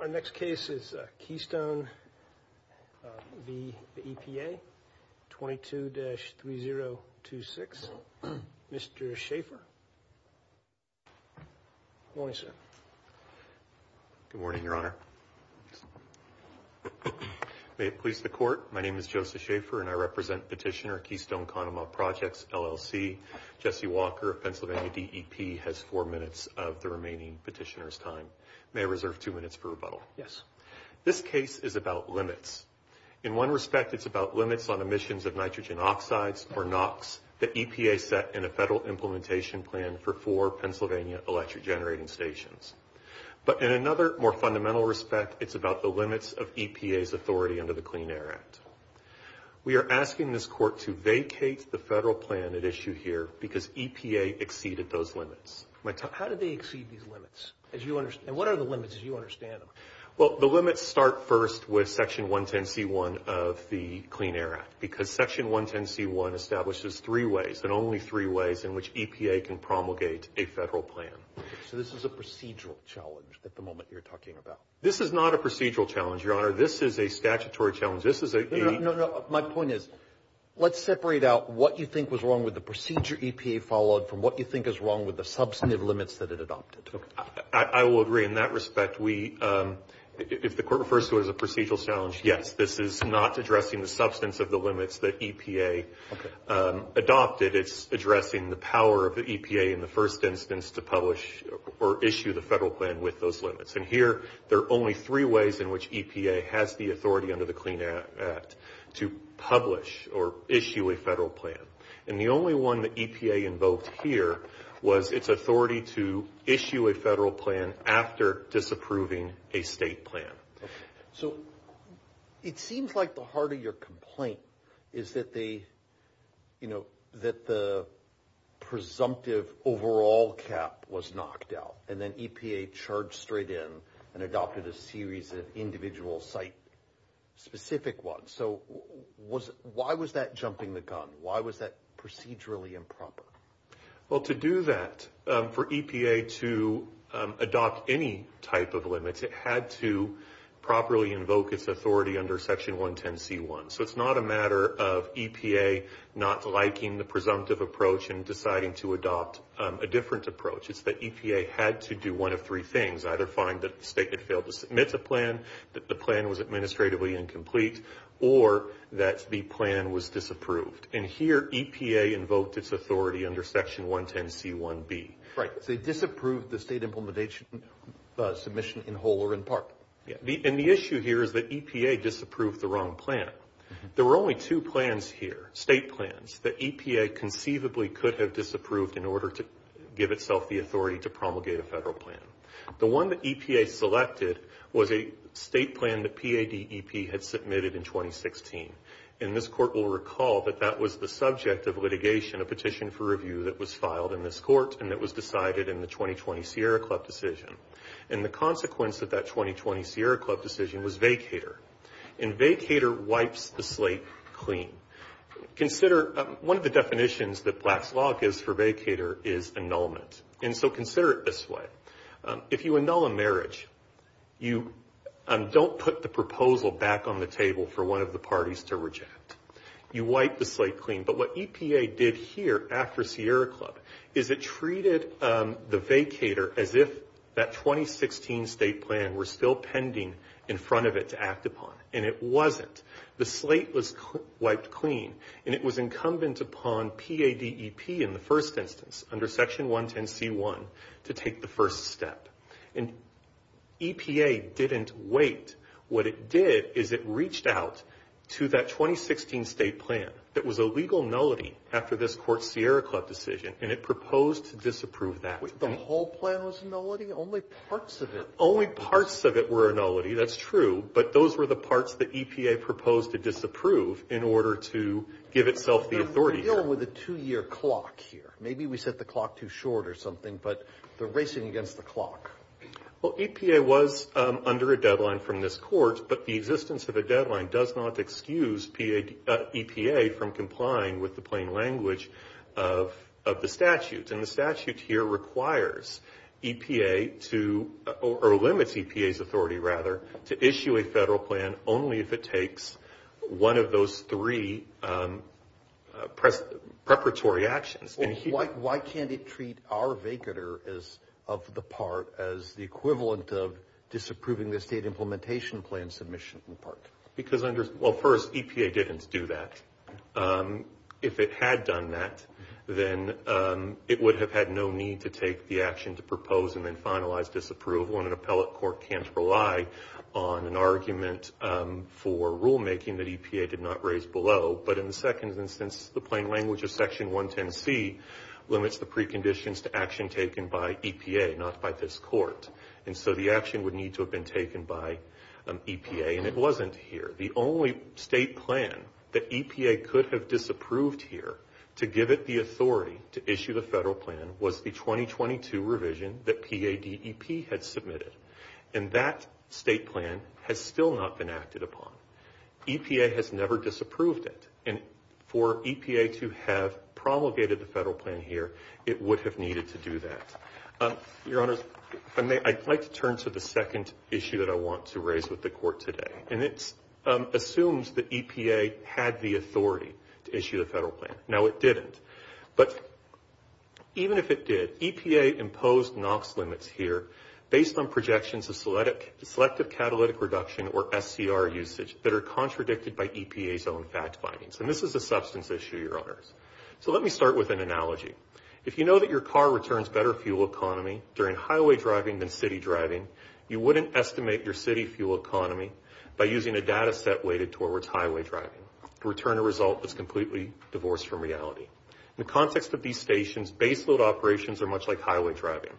Our next case is Keystone v. EPA 22-3026. Mr. Schaffer. Good morning, sir. Good morning, Your Honor. May it please the Court, my name is Joseph Schaffer and I represent Petitioner Keystone-Conemaugh Projects LLC. Jesse Walker of Pennsylvania DEP has four minutes of the remaining petitioner's time. May I reserve two minutes for rebuttal? Yes. This case is about limits. In one respect, it's about limits on emissions of nitrogen oxides, or NOx, that EPA set in a federal implementation plan for four Pennsylvania electric generating stations. But in another, more fundamental respect, it's about the limits of EPA's authority under the Clean Air Act. We are asking this Court to vacate the federal plan at issue here because EPA exceeded those limits. How did they exceed these limits? And what are the limits as you understand them? Well, the limits start first with Section 110c1 of the Clean Air Act, because Section 110c1 establishes three ways, and only three ways, in which EPA can promulgate a federal plan. So this is a procedural challenge at the moment you're talking about? This is not a procedural challenge, Your Honor. This is a statutory challenge. My point is, let's separate out what you think was wrong with the procedure EPA followed from what you think is wrong with the substantive limits that it adopted. I will agree in that respect. If the Court refers to it as a procedural challenge, yes. This is not addressing the substance of the limits that EPA adopted. It's addressing the power of the EPA in the first instance to publish or issue the federal plan with those limits. And here, there are only three ways in which EPA has the authority under the Clean Air Act to publish or issue a federal plan. And the only one that EPA invoked here was its authority to issue a federal plan after disapproving a state plan. So it seems like the heart of your complaint is that the presumptive overall cap was knocked out and then EPA charged straight in and adopted a series of individual site-specific ones. So why was that jumping the gun? Why was that procedurally improper? Well, to do that, for EPA to adopt any type of limits, it had to properly invoke its authority under Section 110c1. So it's not a matter of EPA not liking the presumptive approach and deciding to adopt a different approach. It's that EPA had to do one of three things, either find that the state had failed to submit a plan, that the plan was administratively incomplete, or that the plan was disapproved. And here, EPA invoked its authority under Section 110c1b. Right. They disapproved the state implementation submission in whole or in part. And the issue here is that EPA disapproved the wrong plan. There were only two plans here, state plans, that EPA conceivably could have disapproved in order to give itself the authority to promulgate a federal plan. The one that EPA selected was a state plan the PADEP had submitted in 2016. And this Court will recall that that was the subject of litigation, a petition for review, that was filed in this Court and that was decided in the 2020 Sierra Club decision. And the consequence of that 2020 Sierra Club decision was vacater. And vacater wipes the slate clean. Consider one of the definitions that Black's Law gives for vacater is annulment. And so consider it this way. If you annul a marriage, you don't put the proposal back on the table for one of the parties to reject. You wipe the slate clean. But what EPA did here after Sierra Club is it treated the vacater as if that 2016 state plan were still pending in front of it to act upon. And it wasn't. The slate was wiped clean. And it was incumbent upon PADEP in the first instance, under Section 110c1, to take the first step. And EPA didn't wait. What it did is it reached out to that 2016 state plan that was a legal nullity after this Court's Sierra Club decision, and it proposed to disapprove that. The whole plan was a nullity? Only parts of it? Only parts of it were a nullity. That's true. But those were the parts that EPA proposed to disapprove in order to give itself the authority. We're dealing with a two-year clock here. Maybe we set the clock too short or something. But they're racing against the clock. Well, EPA was under a deadline from this Court. But the existence of a deadline does not excuse EPA from complying with the plain language of the statute. And the statute here requires EPA to or limits EPA's authority, rather, to issue a federal plan only if it takes one of those three preparatory actions. Why can't it treat our vacatur of the part as the equivalent of disapproving the state implementation plan submission in part? Well, first, EPA didn't do that. If it had done that, then it would have had no need to take the action to propose and then finalize disapproval, and an appellate court can't rely on an argument for rulemaking that EPA did not raise below. But in the second instance, the plain language of Section 110C limits the preconditions to action taken by EPA, not by this Court. And so the action would need to have been taken by EPA, and it wasn't here. The only state plan that EPA could have disapproved here to give it the authority to issue the federal plan was the 2022 revision that PADEP had submitted. And that state plan has still not been acted upon. EPA has never disapproved it. And for EPA to have promulgated the federal plan here, it would have needed to do that. Your Honors, I'd like to turn to the second issue that I want to raise with the Court today. And it assumes that EPA had the authority to issue the federal plan. Now, it didn't. But even if it did, EPA imposed NOx limits here based on projections of selective catalytic reduction or SCR usage that are contradicted by EPA's own fact findings. And this is a substance issue, Your Honors. So let me start with an analogy. If you know that your car returns better fuel economy during highway driving than city driving, you wouldn't estimate your city fuel economy by using a data set weighted towards highway driving. The return of result is completely divorced from reality. In the context of these stations, base load operations are much like highway driving.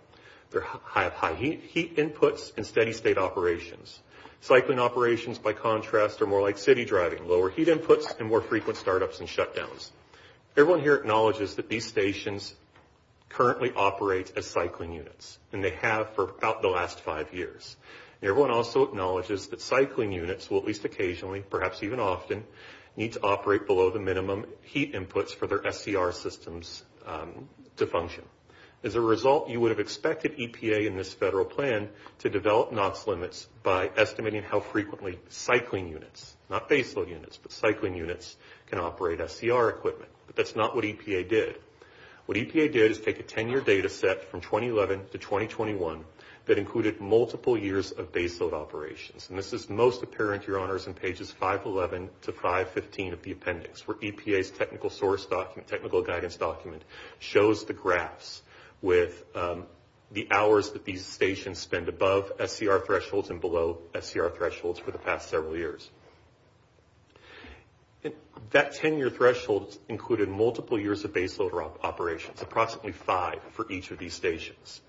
They have high heat inputs and steady state operations. Cycling operations, by contrast, are more like city driving, lower heat inputs and more frequent start-ups and shut-downs. Everyone here acknowledges that these stations currently operate as cycling units. And they have for about the last five years. Everyone also acknowledges that cycling units will, at least occasionally, perhaps even often, need to operate below the minimum heat inputs for their SCR systems to function. As a result, you would have expected EPA in this federal plan to develop NOx limits by estimating how frequently cycling units, not base load units, but cycling units, can operate SCR equipment. But that's not what EPA did. What EPA did is take a 10-year data set from 2011 to 2021 that included multiple years of base load operations. And this is most apparent, Your Honors, in pages 511 to 515 of the appendix, where EPA's technical source document, technical guidance document, shows the graphs with the hours that these stations spend above SCR thresholds and below SCR thresholds for the past several years. That 10-year threshold included multiple years of base load operations, approximately five for each of these stations.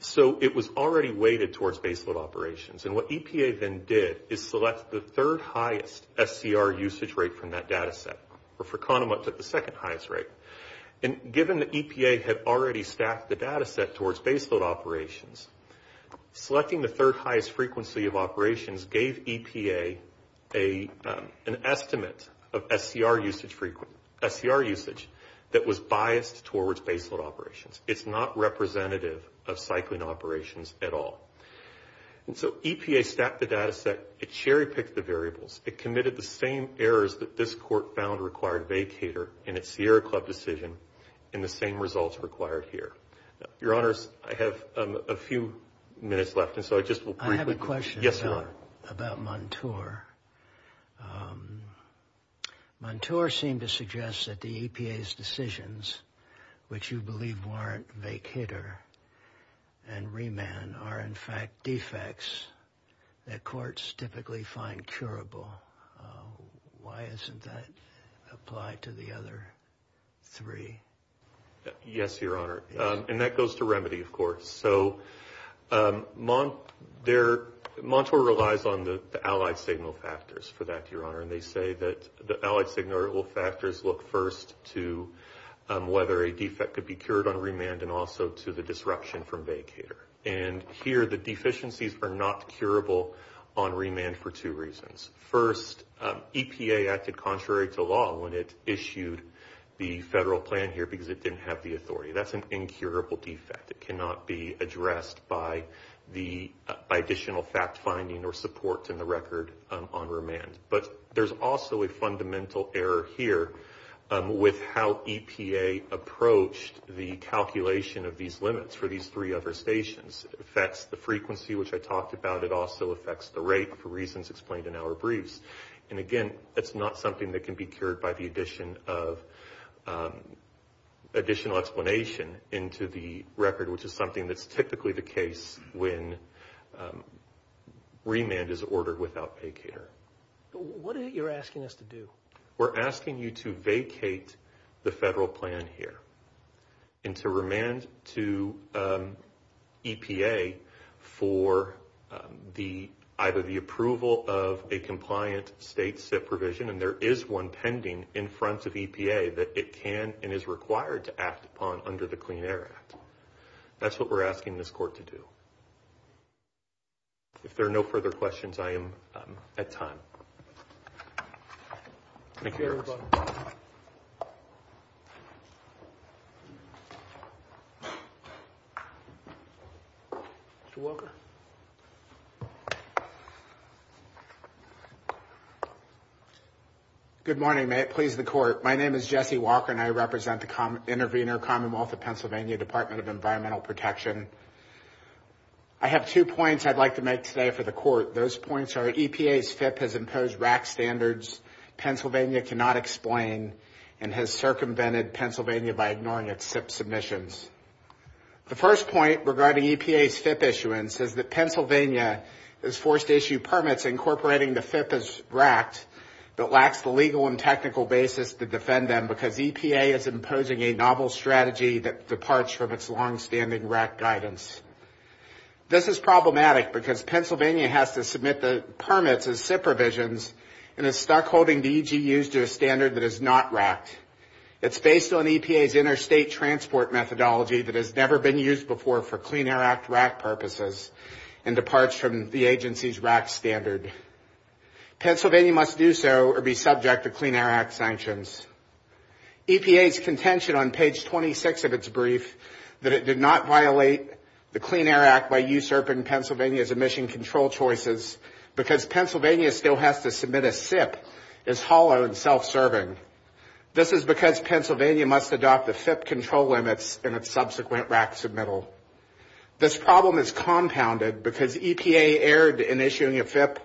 So it was already weighted towards base load operations. And what EPA then did is select the third highest SCR usage rate from that data set, or for Kahnemuth, the second highest rate. And given that EPA had already staffed the data set towards base load operations, selecting the third highest frequency of operations gave EPA an estimate of SCR usage that was biased towards base load operations. It's not representative of cycling operations at all. And so EPA staffed the data set. It cherry-picked the variables. It committed the same errors that this Court found required vacator in its Sierra Club decision in the same results required here. Your Honors, I have a few minutes left, and so I just will briefly... I have a question. Yes, Your Honor. About Montour. Montour seemed to suggest that the EPA's decisions, which you believe warrant vacator and remand, are in fact defects that courts typically find curable. Why isn't that applied to the other three? Yes, Your Honor. And that goes to remedy, of course. So Montour relies on the allied signal factors for that, Your Honor. And they say that the allied signal factors look first to whether a defect could be cured on remand and also to the disruption from vacator. And here the deficiencies were not curable on remand for two reasons. First, EPA acted contrary to law when it issued the federal plan here because it didn't have the authority. That's an incurable defect. It cannot be addressed by additional fact-finding or support in the record on remand. But there's also a fundamental error here with how EPA approached the calculation of these limits for these three other stations. It affects the frequency, which I talked about. It also affects the rate for reasons explained in our briefs. And, again, that's not something that can be cured by the addition of additional explanation into the record, which is something that's typically the case when remand is ordered without vacator. What is it you're asking us to do? We're asking you to vacate the federal plan here and to remand to EPA for either the approval of a compliant state SIP provision, and there is one pending in front of EPA that it can and is required to act upon under the Clean Air Act. That's what we're asking this court to do. If there are no further questions, I am at time. Thank you. Thank you very much. Mr. Walker. Good morning. May it please the Court. My name is Jesse Walker, and I represent the Intervenor Commonwealth of Pennsylvania Department of Environmental Protection. I have two points I'd like to make today for the Court. Those points are EPA's FIP has imposed RAC standards Pennsylvania cannot explain and has circumvented Pennsylvania by ignoring its SIP submissions. The first point regarding EPA's FIP issuance is that Pennsylvania is forced to issue permits incorporating the FIP as RAC that lacks the legal and technical basis to defend them because EPA is imposing a novel strategy that departs from its longstanding RAC guidance. This is problematic because Pennsylvania has to submit the permits as SIP provisions and is stuck holding the EGUs to a standard that is not RAC. It's based on EPA's interstate transport methodology that has never been used before for Clean Air Act RAC purposes and departs from the agency's RAC standard. Pennsylvania must do so or be subject to Clean Air Act sanctions. EPA's contention on page 26 of its brief that it did not violate the Clean Air Act by usurping Pennsylvania's emission control choices because Pennsylvania still has to submit a SIP is hollow and self-serving. This is because Pennsylvania must adopt the FIP control limits in its subsequent RAC submittal. This problem is compounded because EPA erred in issuing a FIP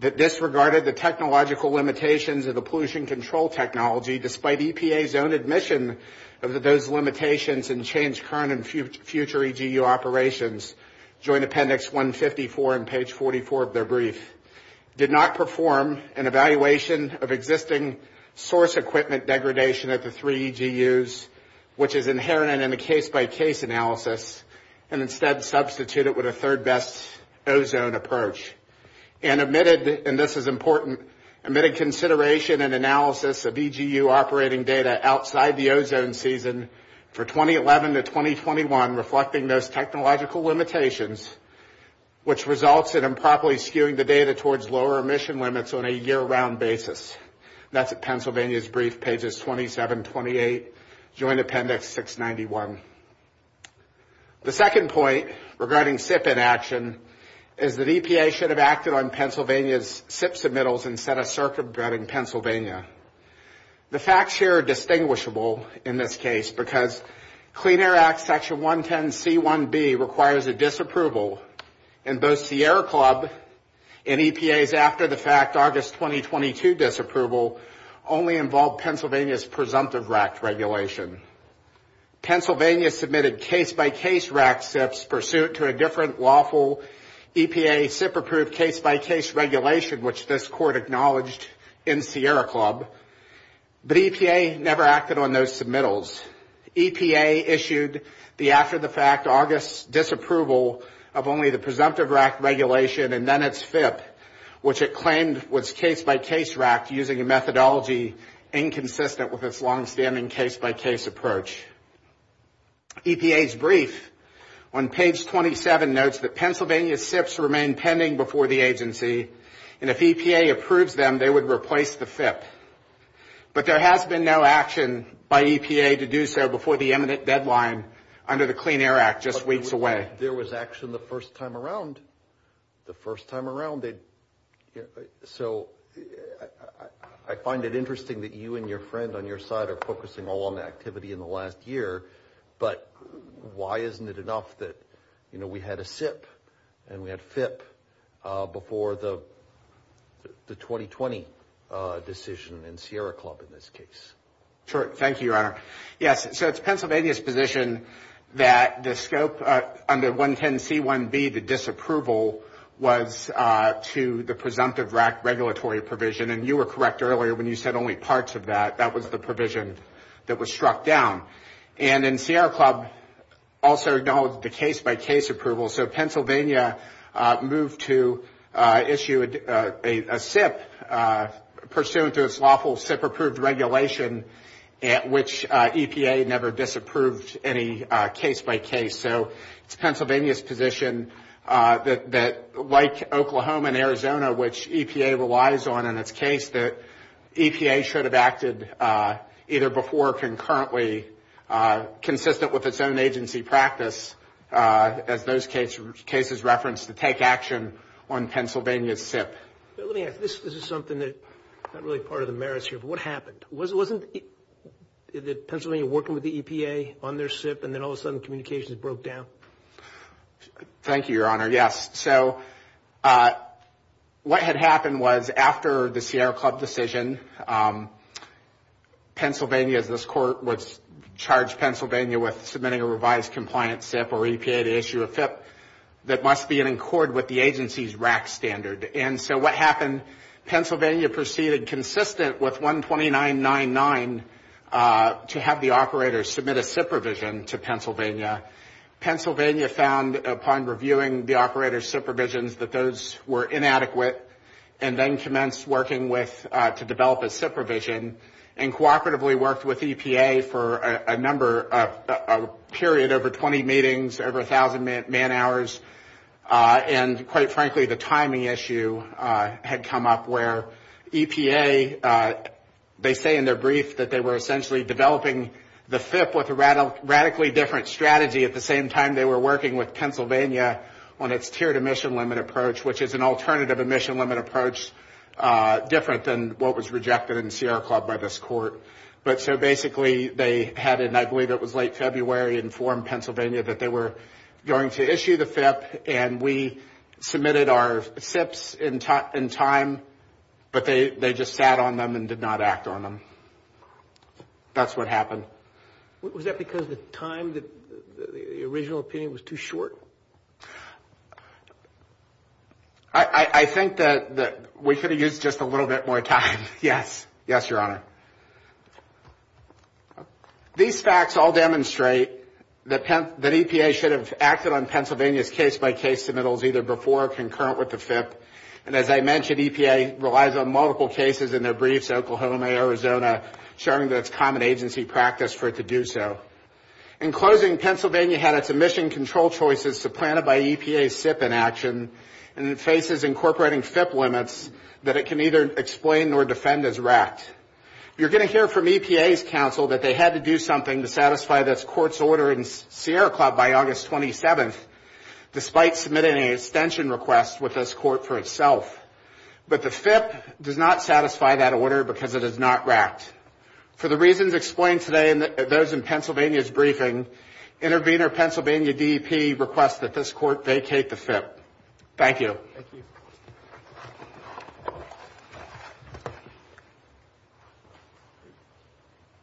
that disregarded the technological limitations of the pollution control technology despite EPA's own admission of those limitations and changed current and future EGU operations, joint appendix 154 and page 44 of their brief. Did not perform an evaluation of existing source equipment degradation at the three EGUs, which is inherent in the case-by-case analysis and instead substituted with a third best ozone approach and omitted, and this is important, omitted consideration and analysis of EGU operating data outside the ozone season for 2011 to 2021 reflecting those technological limitations, which results in improperly skewing the data towards lower emission limits on a year-round basis. That's at Pennsylvania's brief, pages 27, 28, joint appendix 691. The second point regarding SIP inaction is that EPA should have acted on Pennsylvania's SIP submittals instead of circumventing Pennsylvania. The facts here are distinguishable in this case because Clean Air Act section 110C1B requires a disapproval and both Sierra Club and EPA's after-the-fact August 2022 disapproval only involved Pennsylvania's presumptive RAC regulation. Pennsylvania submitted case-by-case RAC SIPs pursuit to a different lawful EPA SIP-approved case-by-case regulation, which this court acknowledged in Sierra Club, but EPA never acted on those submittals. EPA issued the after-the-fact August disapproval of only the presumptive RAC regulation and then its FIP, which it claimed was case-by-case RAC using a methodology inconsistent with its longstanding case-by-case approach. EPA's brief on page 27 notes that Pennsylvania SIPs remain pending before the agency, and if EPA approves them, they would replace the FIP. But there has been no action by EPA to do so before the imminent deadline under the Clean Air Act just weeks away. There was action the first time around, the first time around. So I find it interesting that you and your friend on your side are focusing all on activity in the last year, but why isn't it enough that, you know, we had a SIP and we had FIP before the 2020 decision in Sierra Club in this case? Sure. Thank you, Your Honor. Yes, so it's Pennsylvania's position that the scope under 110C1B, the disapproval, was to the presumptive RAC regulatory provision, and you were correct earlier when you said only parts of that. That was the provision that was struck down. And then Sierra Club also acknowledged the case-by-case approval, so Pennsylvania moved to issue a SIP pursuant to its lawful SIP-approved regulation at which EPA never disapproved any case-by-case. So it's Pennsylvania's position that, like Oklahoma and Arizona, which EPA relies on in its case, that EPA should have acted either before or concurrently, consistent with its own agency practice, as those cases referenced, to take action on Pennsylvania's SIP. Let me ask. This is something that's not really part of the merits here, but what happened? Wasn't it Pennsylvania working with the EPA on their SIP, and then all of a sudden communications broke down? Thank you, Your Honor. Yes, so what had happened was after the Sierra Club decision, Pennsylvania, as this Court would charge Pennsylvania with submitting a revised compliant SIP or EPA to issue a FIP, that must be in accord with the agency's RAC standard. And so what happened, Pennsylvania proceeded consistent with 12999 to have the operators submit a SIP revision to Pennsylvania. Pennsylvania found upon reviewing the operators' SIP revisions that those were inadequate, and then commenced working to develop a SIP revision, and cooperatively worked with EPA for a number of, period, over 20 meetings, over 1,000 man hours. And quite frankly, the timing issue had come up where EPA, they say in their brief that they were essentially developing the FIP with a radically different strategy at the same time they were working with Pennsylvania on its tiered emission limit approach, which is an alternative emission limit approach different than what was rejected in Sierra Club by this Court. But so basically, they had, and I believe it was late February, informed Pennsylvania that they were going to issue the FIP, and we submitted our SIPs in time, but they just sat on them and did not act on them. That's what happened. Was that because the time, the original opinion was too short? I think that we could have used just a little bit more time, yes. Yes, Your Honor. These facts all demonstrate that EPA should have acted on Pennsylvania's case-by-case submittals either before or concurrent with the FIP, and as I mentioned, EPA relies on multiple cases in their briefs, Oklahoma, Arizona, showing that it's common agency practice for it to do so. In closing, Pennsylvania had its emission control choices supplanted by EPA's SIP inaction, and it faces incorporating FIP limits that it can neither explain nor defend as racked. You're going to hear from EPA's counsel that they had to do something to satisfy this Court's order in Sierra Club by August 27th, despite submitting an extension request with this Court for itself. But the FIP does not satisfy that order because it is not racked. For the reasons explained today in those in Pennsylvania's briefing, intervener Pennsylvania DEP requests that this Court vacate the FIP. Thank you. Thank you.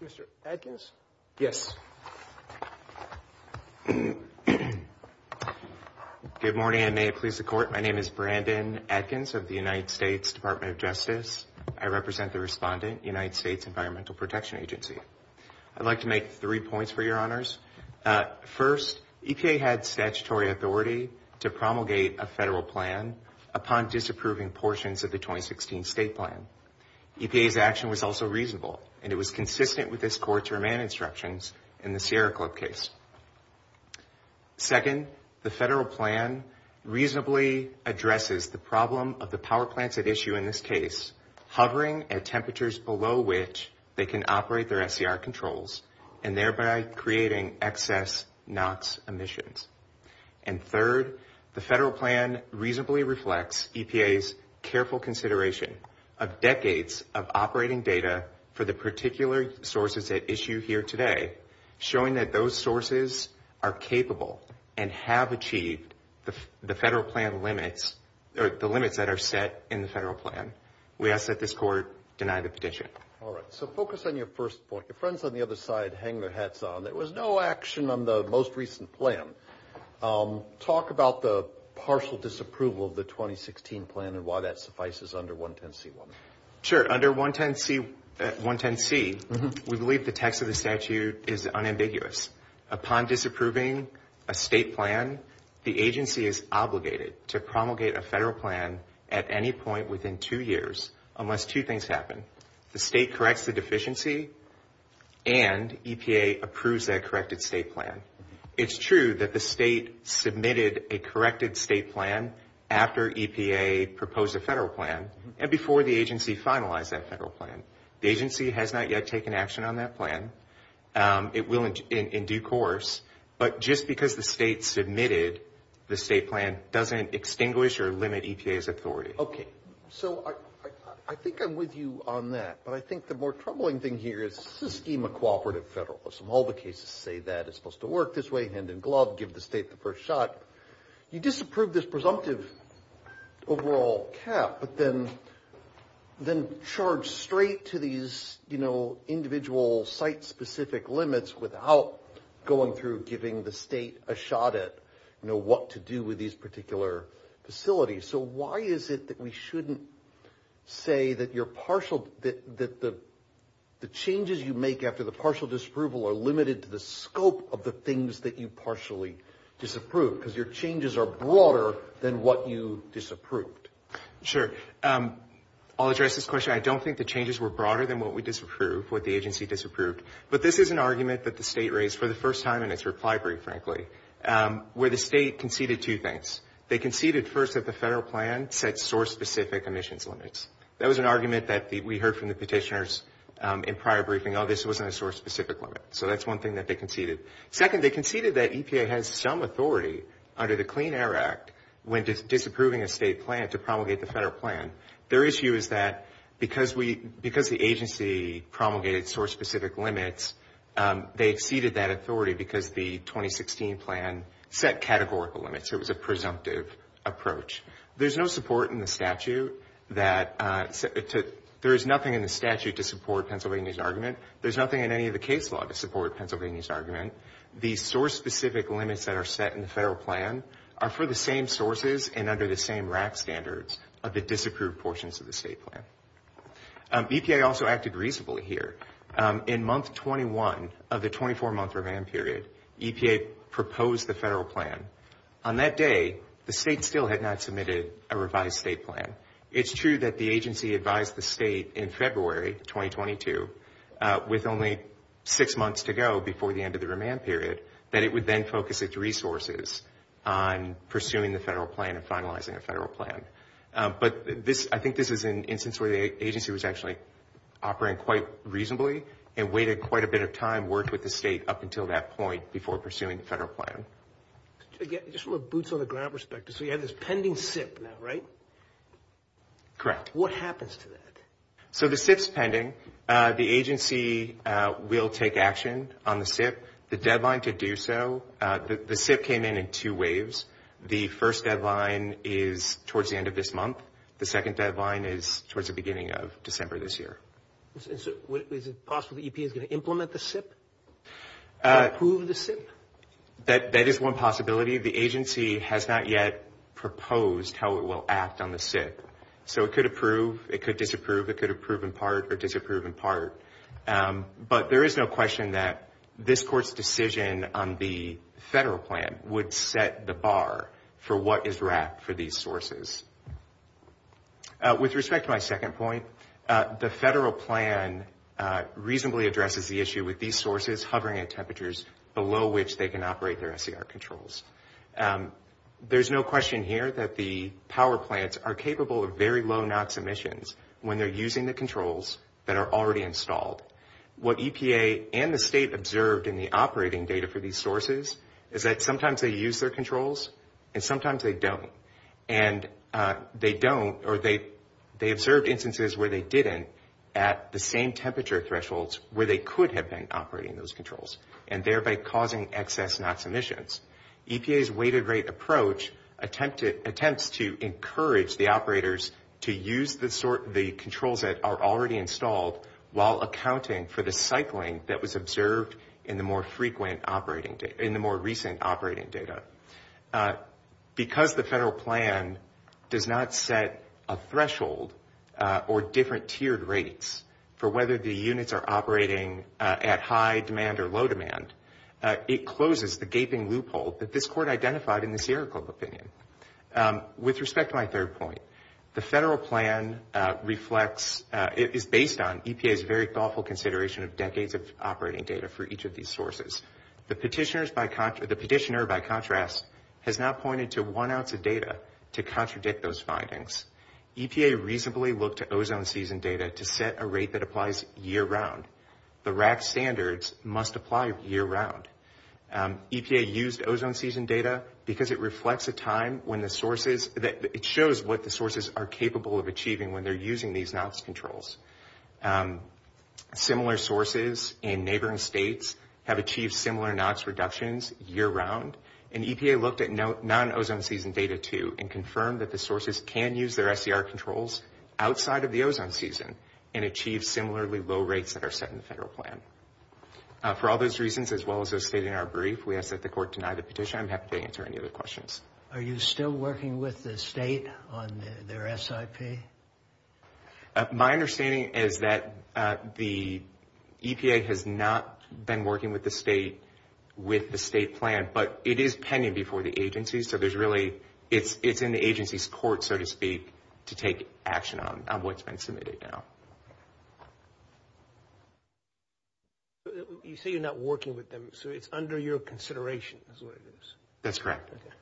Mr. Adkins? Yes. Good morning, and may it please the Court. My name is Brandon Adkins of the United States Department of Justice. I represent the respondent, United States Environmental Protection Agency. I'd like to make three points for your honors. First, EPA had statutory authority to promulgate a federal plan upon disapproving portions of the 2016 state plan. EPA's action was also reasonable, and it was consistent with this Court's remand instructions in the Sierra Club case. Second, the federal plan reasonably addresses the problem of the power plants at issue in this case, hovering at temperatures below which they can operate their SCR controls, and thereby creating excess NOx emissions. And third, the federal plan reasonably reflects EPA's careful consideration of decades of operating data for the particular sources at issue here today, showing that those sources are capable and have achieved the federal plan limits, or the limits that are set in the federal plan. We ask that this Court deny the petition. All right. So focus on your first point. Your friends on the other side hang their hats on. There was no action on the most recent plan. Talk about the partial disapproval of the 2016 plan and why that suffices under 110C1. Sure. Under 110C, we believe the text of the statute is unambiguous. Upon disapproving a state plan, the agency is obligated to promulgate a federal plan at any point within two years, unless two things happen. The state corrects the deficiency and EPA approves that corrected state plan. It's true that the state submitted a corrected state plan after EPA proposed a federal plan and before the agency finalized that federal plan. The agency has not yet taken action on that plan. It will in due course. But just because the state submitted the state plan doesn't extinguish or limit EPA's authority. Okay. So I think I'm with you on that. But I think the more troubling thing here is this is a scheme of cooperative federalism. All the cases say that it's supposed to work this way, hand in glove, give the state the first shot. You disapprove this presumptive overall cap, but then charge straight to these individual site-specific limits without going through giving the state a shot at what to do with these particular facilities. So why is it that we shouldn't say that the changes you make after the partial disapproval are limited to the scope of the things that you partially disapproved? Because your changes are broader than what you disapproved. Sure. I'll address this question. I don't think the changes were broader than what we disapproved, what the agency disapproved. But this is an argument that the state raised for the first time in its reply brief, frankly, where the state conceded two things. They conceded first that the federal plan set source-specific emissions limits. That was an argument that we heard from the petitioners in prior briefing. Oh, this wasn't a source-specific limit. So that's one thing that they conceded. Second, they conceded that EPA has some authority under the Clean Air Act when disapproving a state plan to promulgate the federal plan. Their issue is that because the agency promulgated source-specific limits, they exceeded that authority because the 2016 plan set categorical limits. It was a presumptive approach. There's no support in the statute to support Pennsylvania's argument. There's nothing in any of the case law to support Pennsylvania's argument. The source-specific limits that are set in the federal plan are for the same sources and under the same RAC standards of the disapproved portions of the state plan. EPA also acted reasonably here. In month 21 of the 24-month revamp period, EPA proposed the federal plan. On that day, the state still had not submitted a revised state plan. It's true that the agency advised the state in February 2022, with only six months to go before the end of the remand period, that it would then focus its resources on pursuing the federal plan and finalizing a federal plan. But I think this is an instance where the agency was actually operating quite reasonably and waited quite a bit of time, worked with the state up until that point, before pursuing the federal plan. Just from a boots-on-the-ground perspective, so you have this pending SIP now, right? Correct. What happens to that? So the SIP's pending. The agency will take action on the SIP. The deadline to do so, the SIP came in in two waves. The first deadline is towards the end of this month. The second deadline is towards the beginning of December this year. Is it possible the EPA is going to implement the SIP? Approve the SIP? That is one possibility. The agency has not yet proposed how it will act on the SIP. So it could approve, it could disapprove. It could approve in part or disapprove in part. But there is no question that this Court's decision on the federal plan would set the bar for what is wrapped for these sources. With respect to my second point, the federal plan reasonably addresses the issue with these sources hovering at temperatures below which they can operate their SCR controls. There's no question here that the power plants are capable of very low NOx emissions when they're using the controls that are already installed. What EPA and the state observed in the operating data for these sources is that sometimes they use their controls and sometimes they don't. And they don't or they observed instances where they didn't at the same temperature thresholds where they could have been operating those controls and thereby causing excess NOx emissions. EPA's weighted rate approach attempts to encourage the operators to use the controls that are already installed while accounting for the cycling that was observed in the more recent operating data. Because the federal plan does not set a threshold or different tiered rates for whether the units are operating at high demand or low demand, it closes the gaping loophole that this Court identified in the Sierra Club opinion. With respect to my third point, the federal plan is based on EPA's very thoughtful consideration of decades of operating data for each of these sources. The petitioner, by contrast, has not pointed to one ounce of data to contradict those findings. EPA reasonably looked at ozone season data to set a rate that applies year-round. The RAC standards must apply year-round. EPA used ozone season data because it reflects a time when the sources, it shows what the sources are capable of achieving when they're using these NOx controls. Similar sources in neighboring states have achieved similar NOx reductions year-round, and EPA looked at non-ozone season data, too, and confirmed that the sources can use their SCR controls outside of the ozone season and achieve similarly low rates that are set in the federal plan. For all those reasons, as well as those stated in our brief, we ask that the Court deny the petition. I'm happy to answer any other questions. Are you still working with the state on their SIP? My understanding is that the EPA has not been working with the state with the state plan, but it is pending before the agency, so there's really, it's in the agency's court, so to speak, to take action on what's been submitted now. You say you're not working with them, so it's under your consideration is what it is. That's correct. Okay.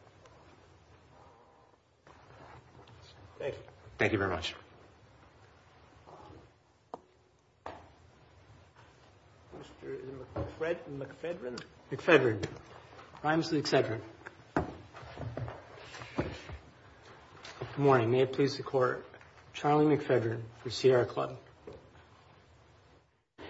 Thank you. Thank you very much. Mr. McFedrin. McFedrin. Rhymes with excedrin. Good morning. May it please the Court. Charlie McFedrin for Sierra Club.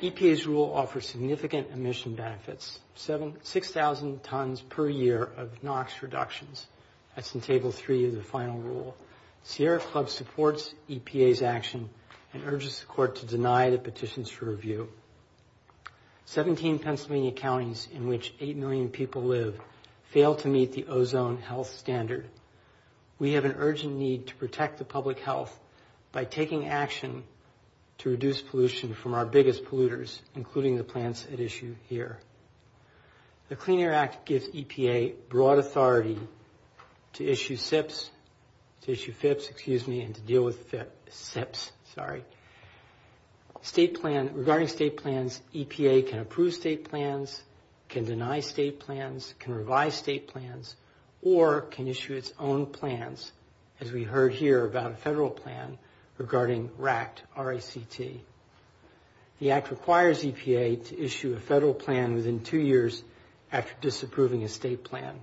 EPA's rule offers significant emission benefits, 6,000 tons per year of NOx reductions. That's in Table 3 of the final rule. Sierra Club supports EPA's action and urges the Court to deny the petitions for review. 17 Pennsylvania counties in which 8 million people live fail to meet the ozone health standard. We have an urgent need to protect the public health by taking action to reduce pollution from our biggest polluters, including the plants at issue here. The Clean Air Act gives EPA broad authority to issue SIPs, to issue FIPs, excuse me, and to deal with SIPs, sorry. State plan, regarding state plans, EPA can approve state plans, can deny state plans, can revise state plans, or can issue its own plans, as we heard here about a federal plan, regarding RACT, R-A-C-T. The Act requires EPA to issue a federal plan within two years after disapproving a state plan.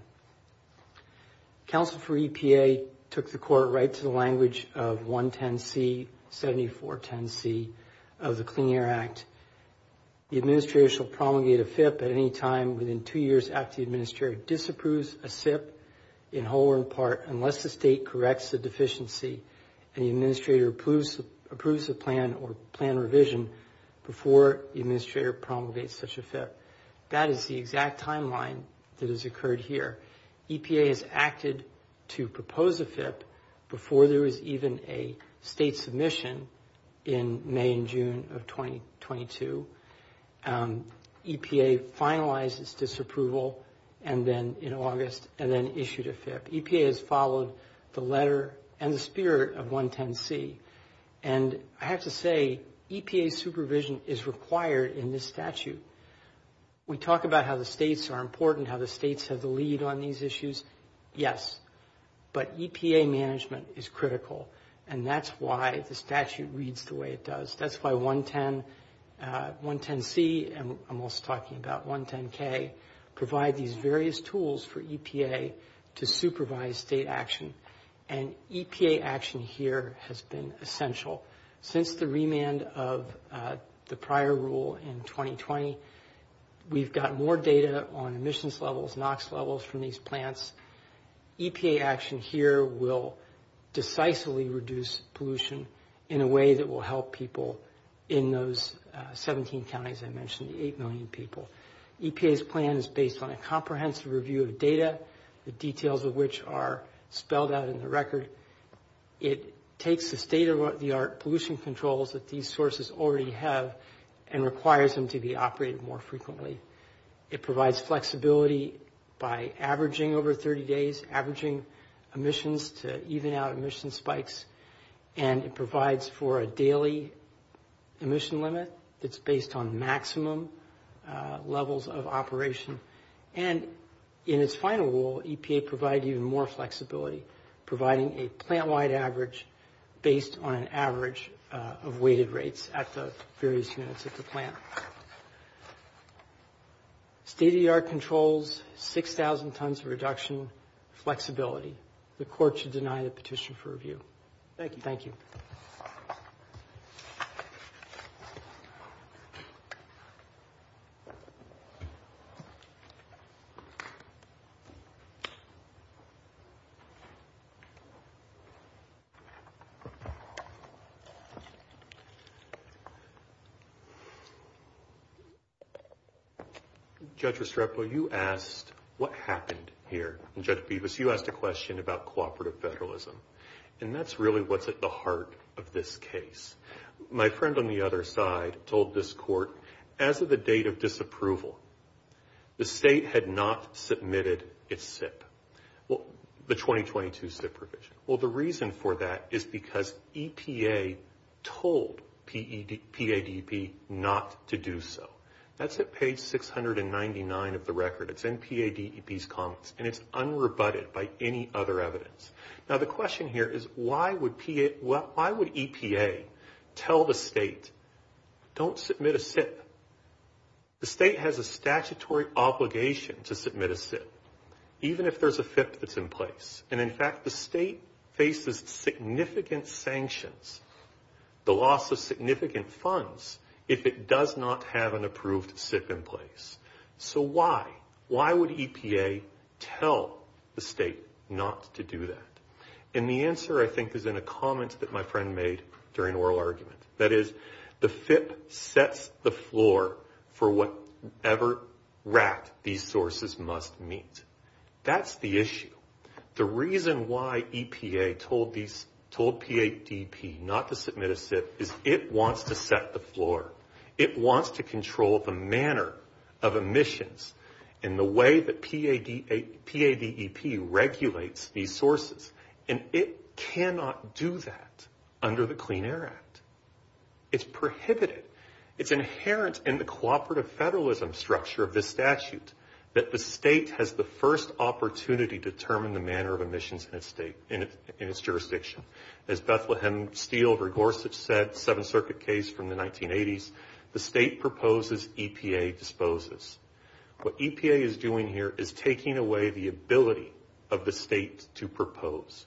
Counsel for EPA took the Court right to the language of 110C, 7410C of the Clean Air Act. The Administrator shall promulgate a FIP at any time within two years after the Administrator disapproves a SIP, in whole or in part, unless the State corrects the deficiency and the Administrator approves the plan or plan revision before the Administrator promulgates such a FIP. That is the exact timeline that has occurred here. EPA has acted to propose a FIP before there was even a State submission in May and June of 2022. EPA finalized its disapproval in August and then issued a FIP. EPA has followed the letter and the spirit of 110C. And I have to say, EPA supervision is required in this statute. We talk about how the States are important, how the States have the lead on these issues. Yes, but EPA management is critical. And that's why the statute reads the way it does. That's why 110C, and I'm also talking about 110K, provide these various tools for EPA to supervise State action. And EPA action here has been essential. Since the remand of the prior rule in 2020, we've gotten more data on emissions levels, NOx levels from these plants. EPA action here will decisively reduce pollution in a way that will help people in those 17 counties I mentioned, the 8 million people. EPA's plan is based on a comprehensive review of data, the details of which are spelled out in the record. It takes the state-of-the-art pollution controls that these sources already have and requires them to be operated more frequently. It provides flexibility by averaging over 30 days, averaging emissions to even out emission spikes. And it provides for a daily emission limit that's based on maximum levels of operation. And in its final rule, EPA provided even more flexibility, providing a plant-wide average based on an average of weighted rates at the various units of the plant. State-of-the-art controls, 6,000 tons of reduction, flexibility. The court should deny the petition for review. Thank you. Thank you. Thank you. Judge Restrepo, you asked what happened here. And Judge Bevis, you asked a question about cooperative federalism. And that's really what's at the heart of this case. My friend on the other side told this court, as of the date of disapproval, the state had not submitted its SIP, the 2022 SIP provision. Well, the reason for that is because EPA told PADEP not to do so. That's at page 699 of the record. It's in PADEP's comments. And it's unrebutted by any other evidence. Now, the question here is, why would EPA tell the state, don't submit a SIP? The state has a statutory obligation to submit a SIP, even if there's a FIP that's in place. And, in fact, the state faces significant sanctions, the loss of significant funds, if it does not have an approved SIP in place. So why? Why would EPA tell the state not to do that? And the answer, I think, is in a comment that my friend made during oral argument. That is, the FIP sets the floor for whatever rack these sources must meet. That's the issue. The reason why EPA told PADEP not to submit a SIP is it wants to set the floor. It wants to control the manner of emissions and the way that PADEP regulates these sources. And it cannot do that under the Clean Air Act. It's prohibited. It's inherent in the cooperative federalism structure of this statute that the state has the first opportunity to determine the manner of emissions in its jurisdiction. As Bethlehem Steele Rigorsich said, Seventh Circuit case from the 1980s, the state proposes, EPA disposes. What EPA is doing here is taking away the ability of the state to propose.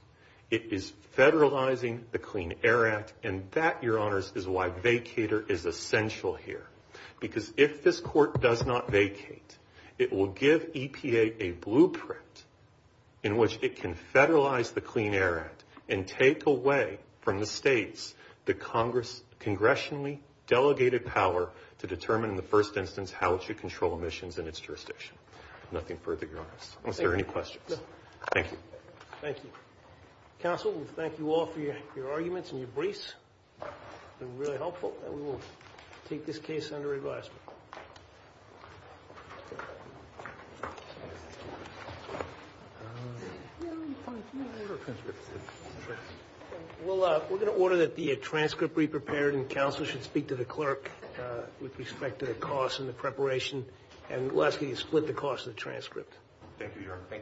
It is federalizing the Clean Air Act, and that, Your Honors, is why vacator is essential here. Because if this court does not vacate, it will give EPA a blueprint in which it can federalize the Clean Air Act and take away from the states the congressionally delegated power to determine in the first instance how it should control emissions in its jurisdiction. Nothing further, Your Honors. Are there any questions? No. Thank you. Thank you. Counsel, we thank you all for your arguments and your briefs. It's been really helpful, and we will take this case under advisement. We're going to order that the transcript be prepared, and counsel should speak to the clerk with respect to the cost and the preparation. And lastly, split the cost of the transcript. Thank you, Your Honor.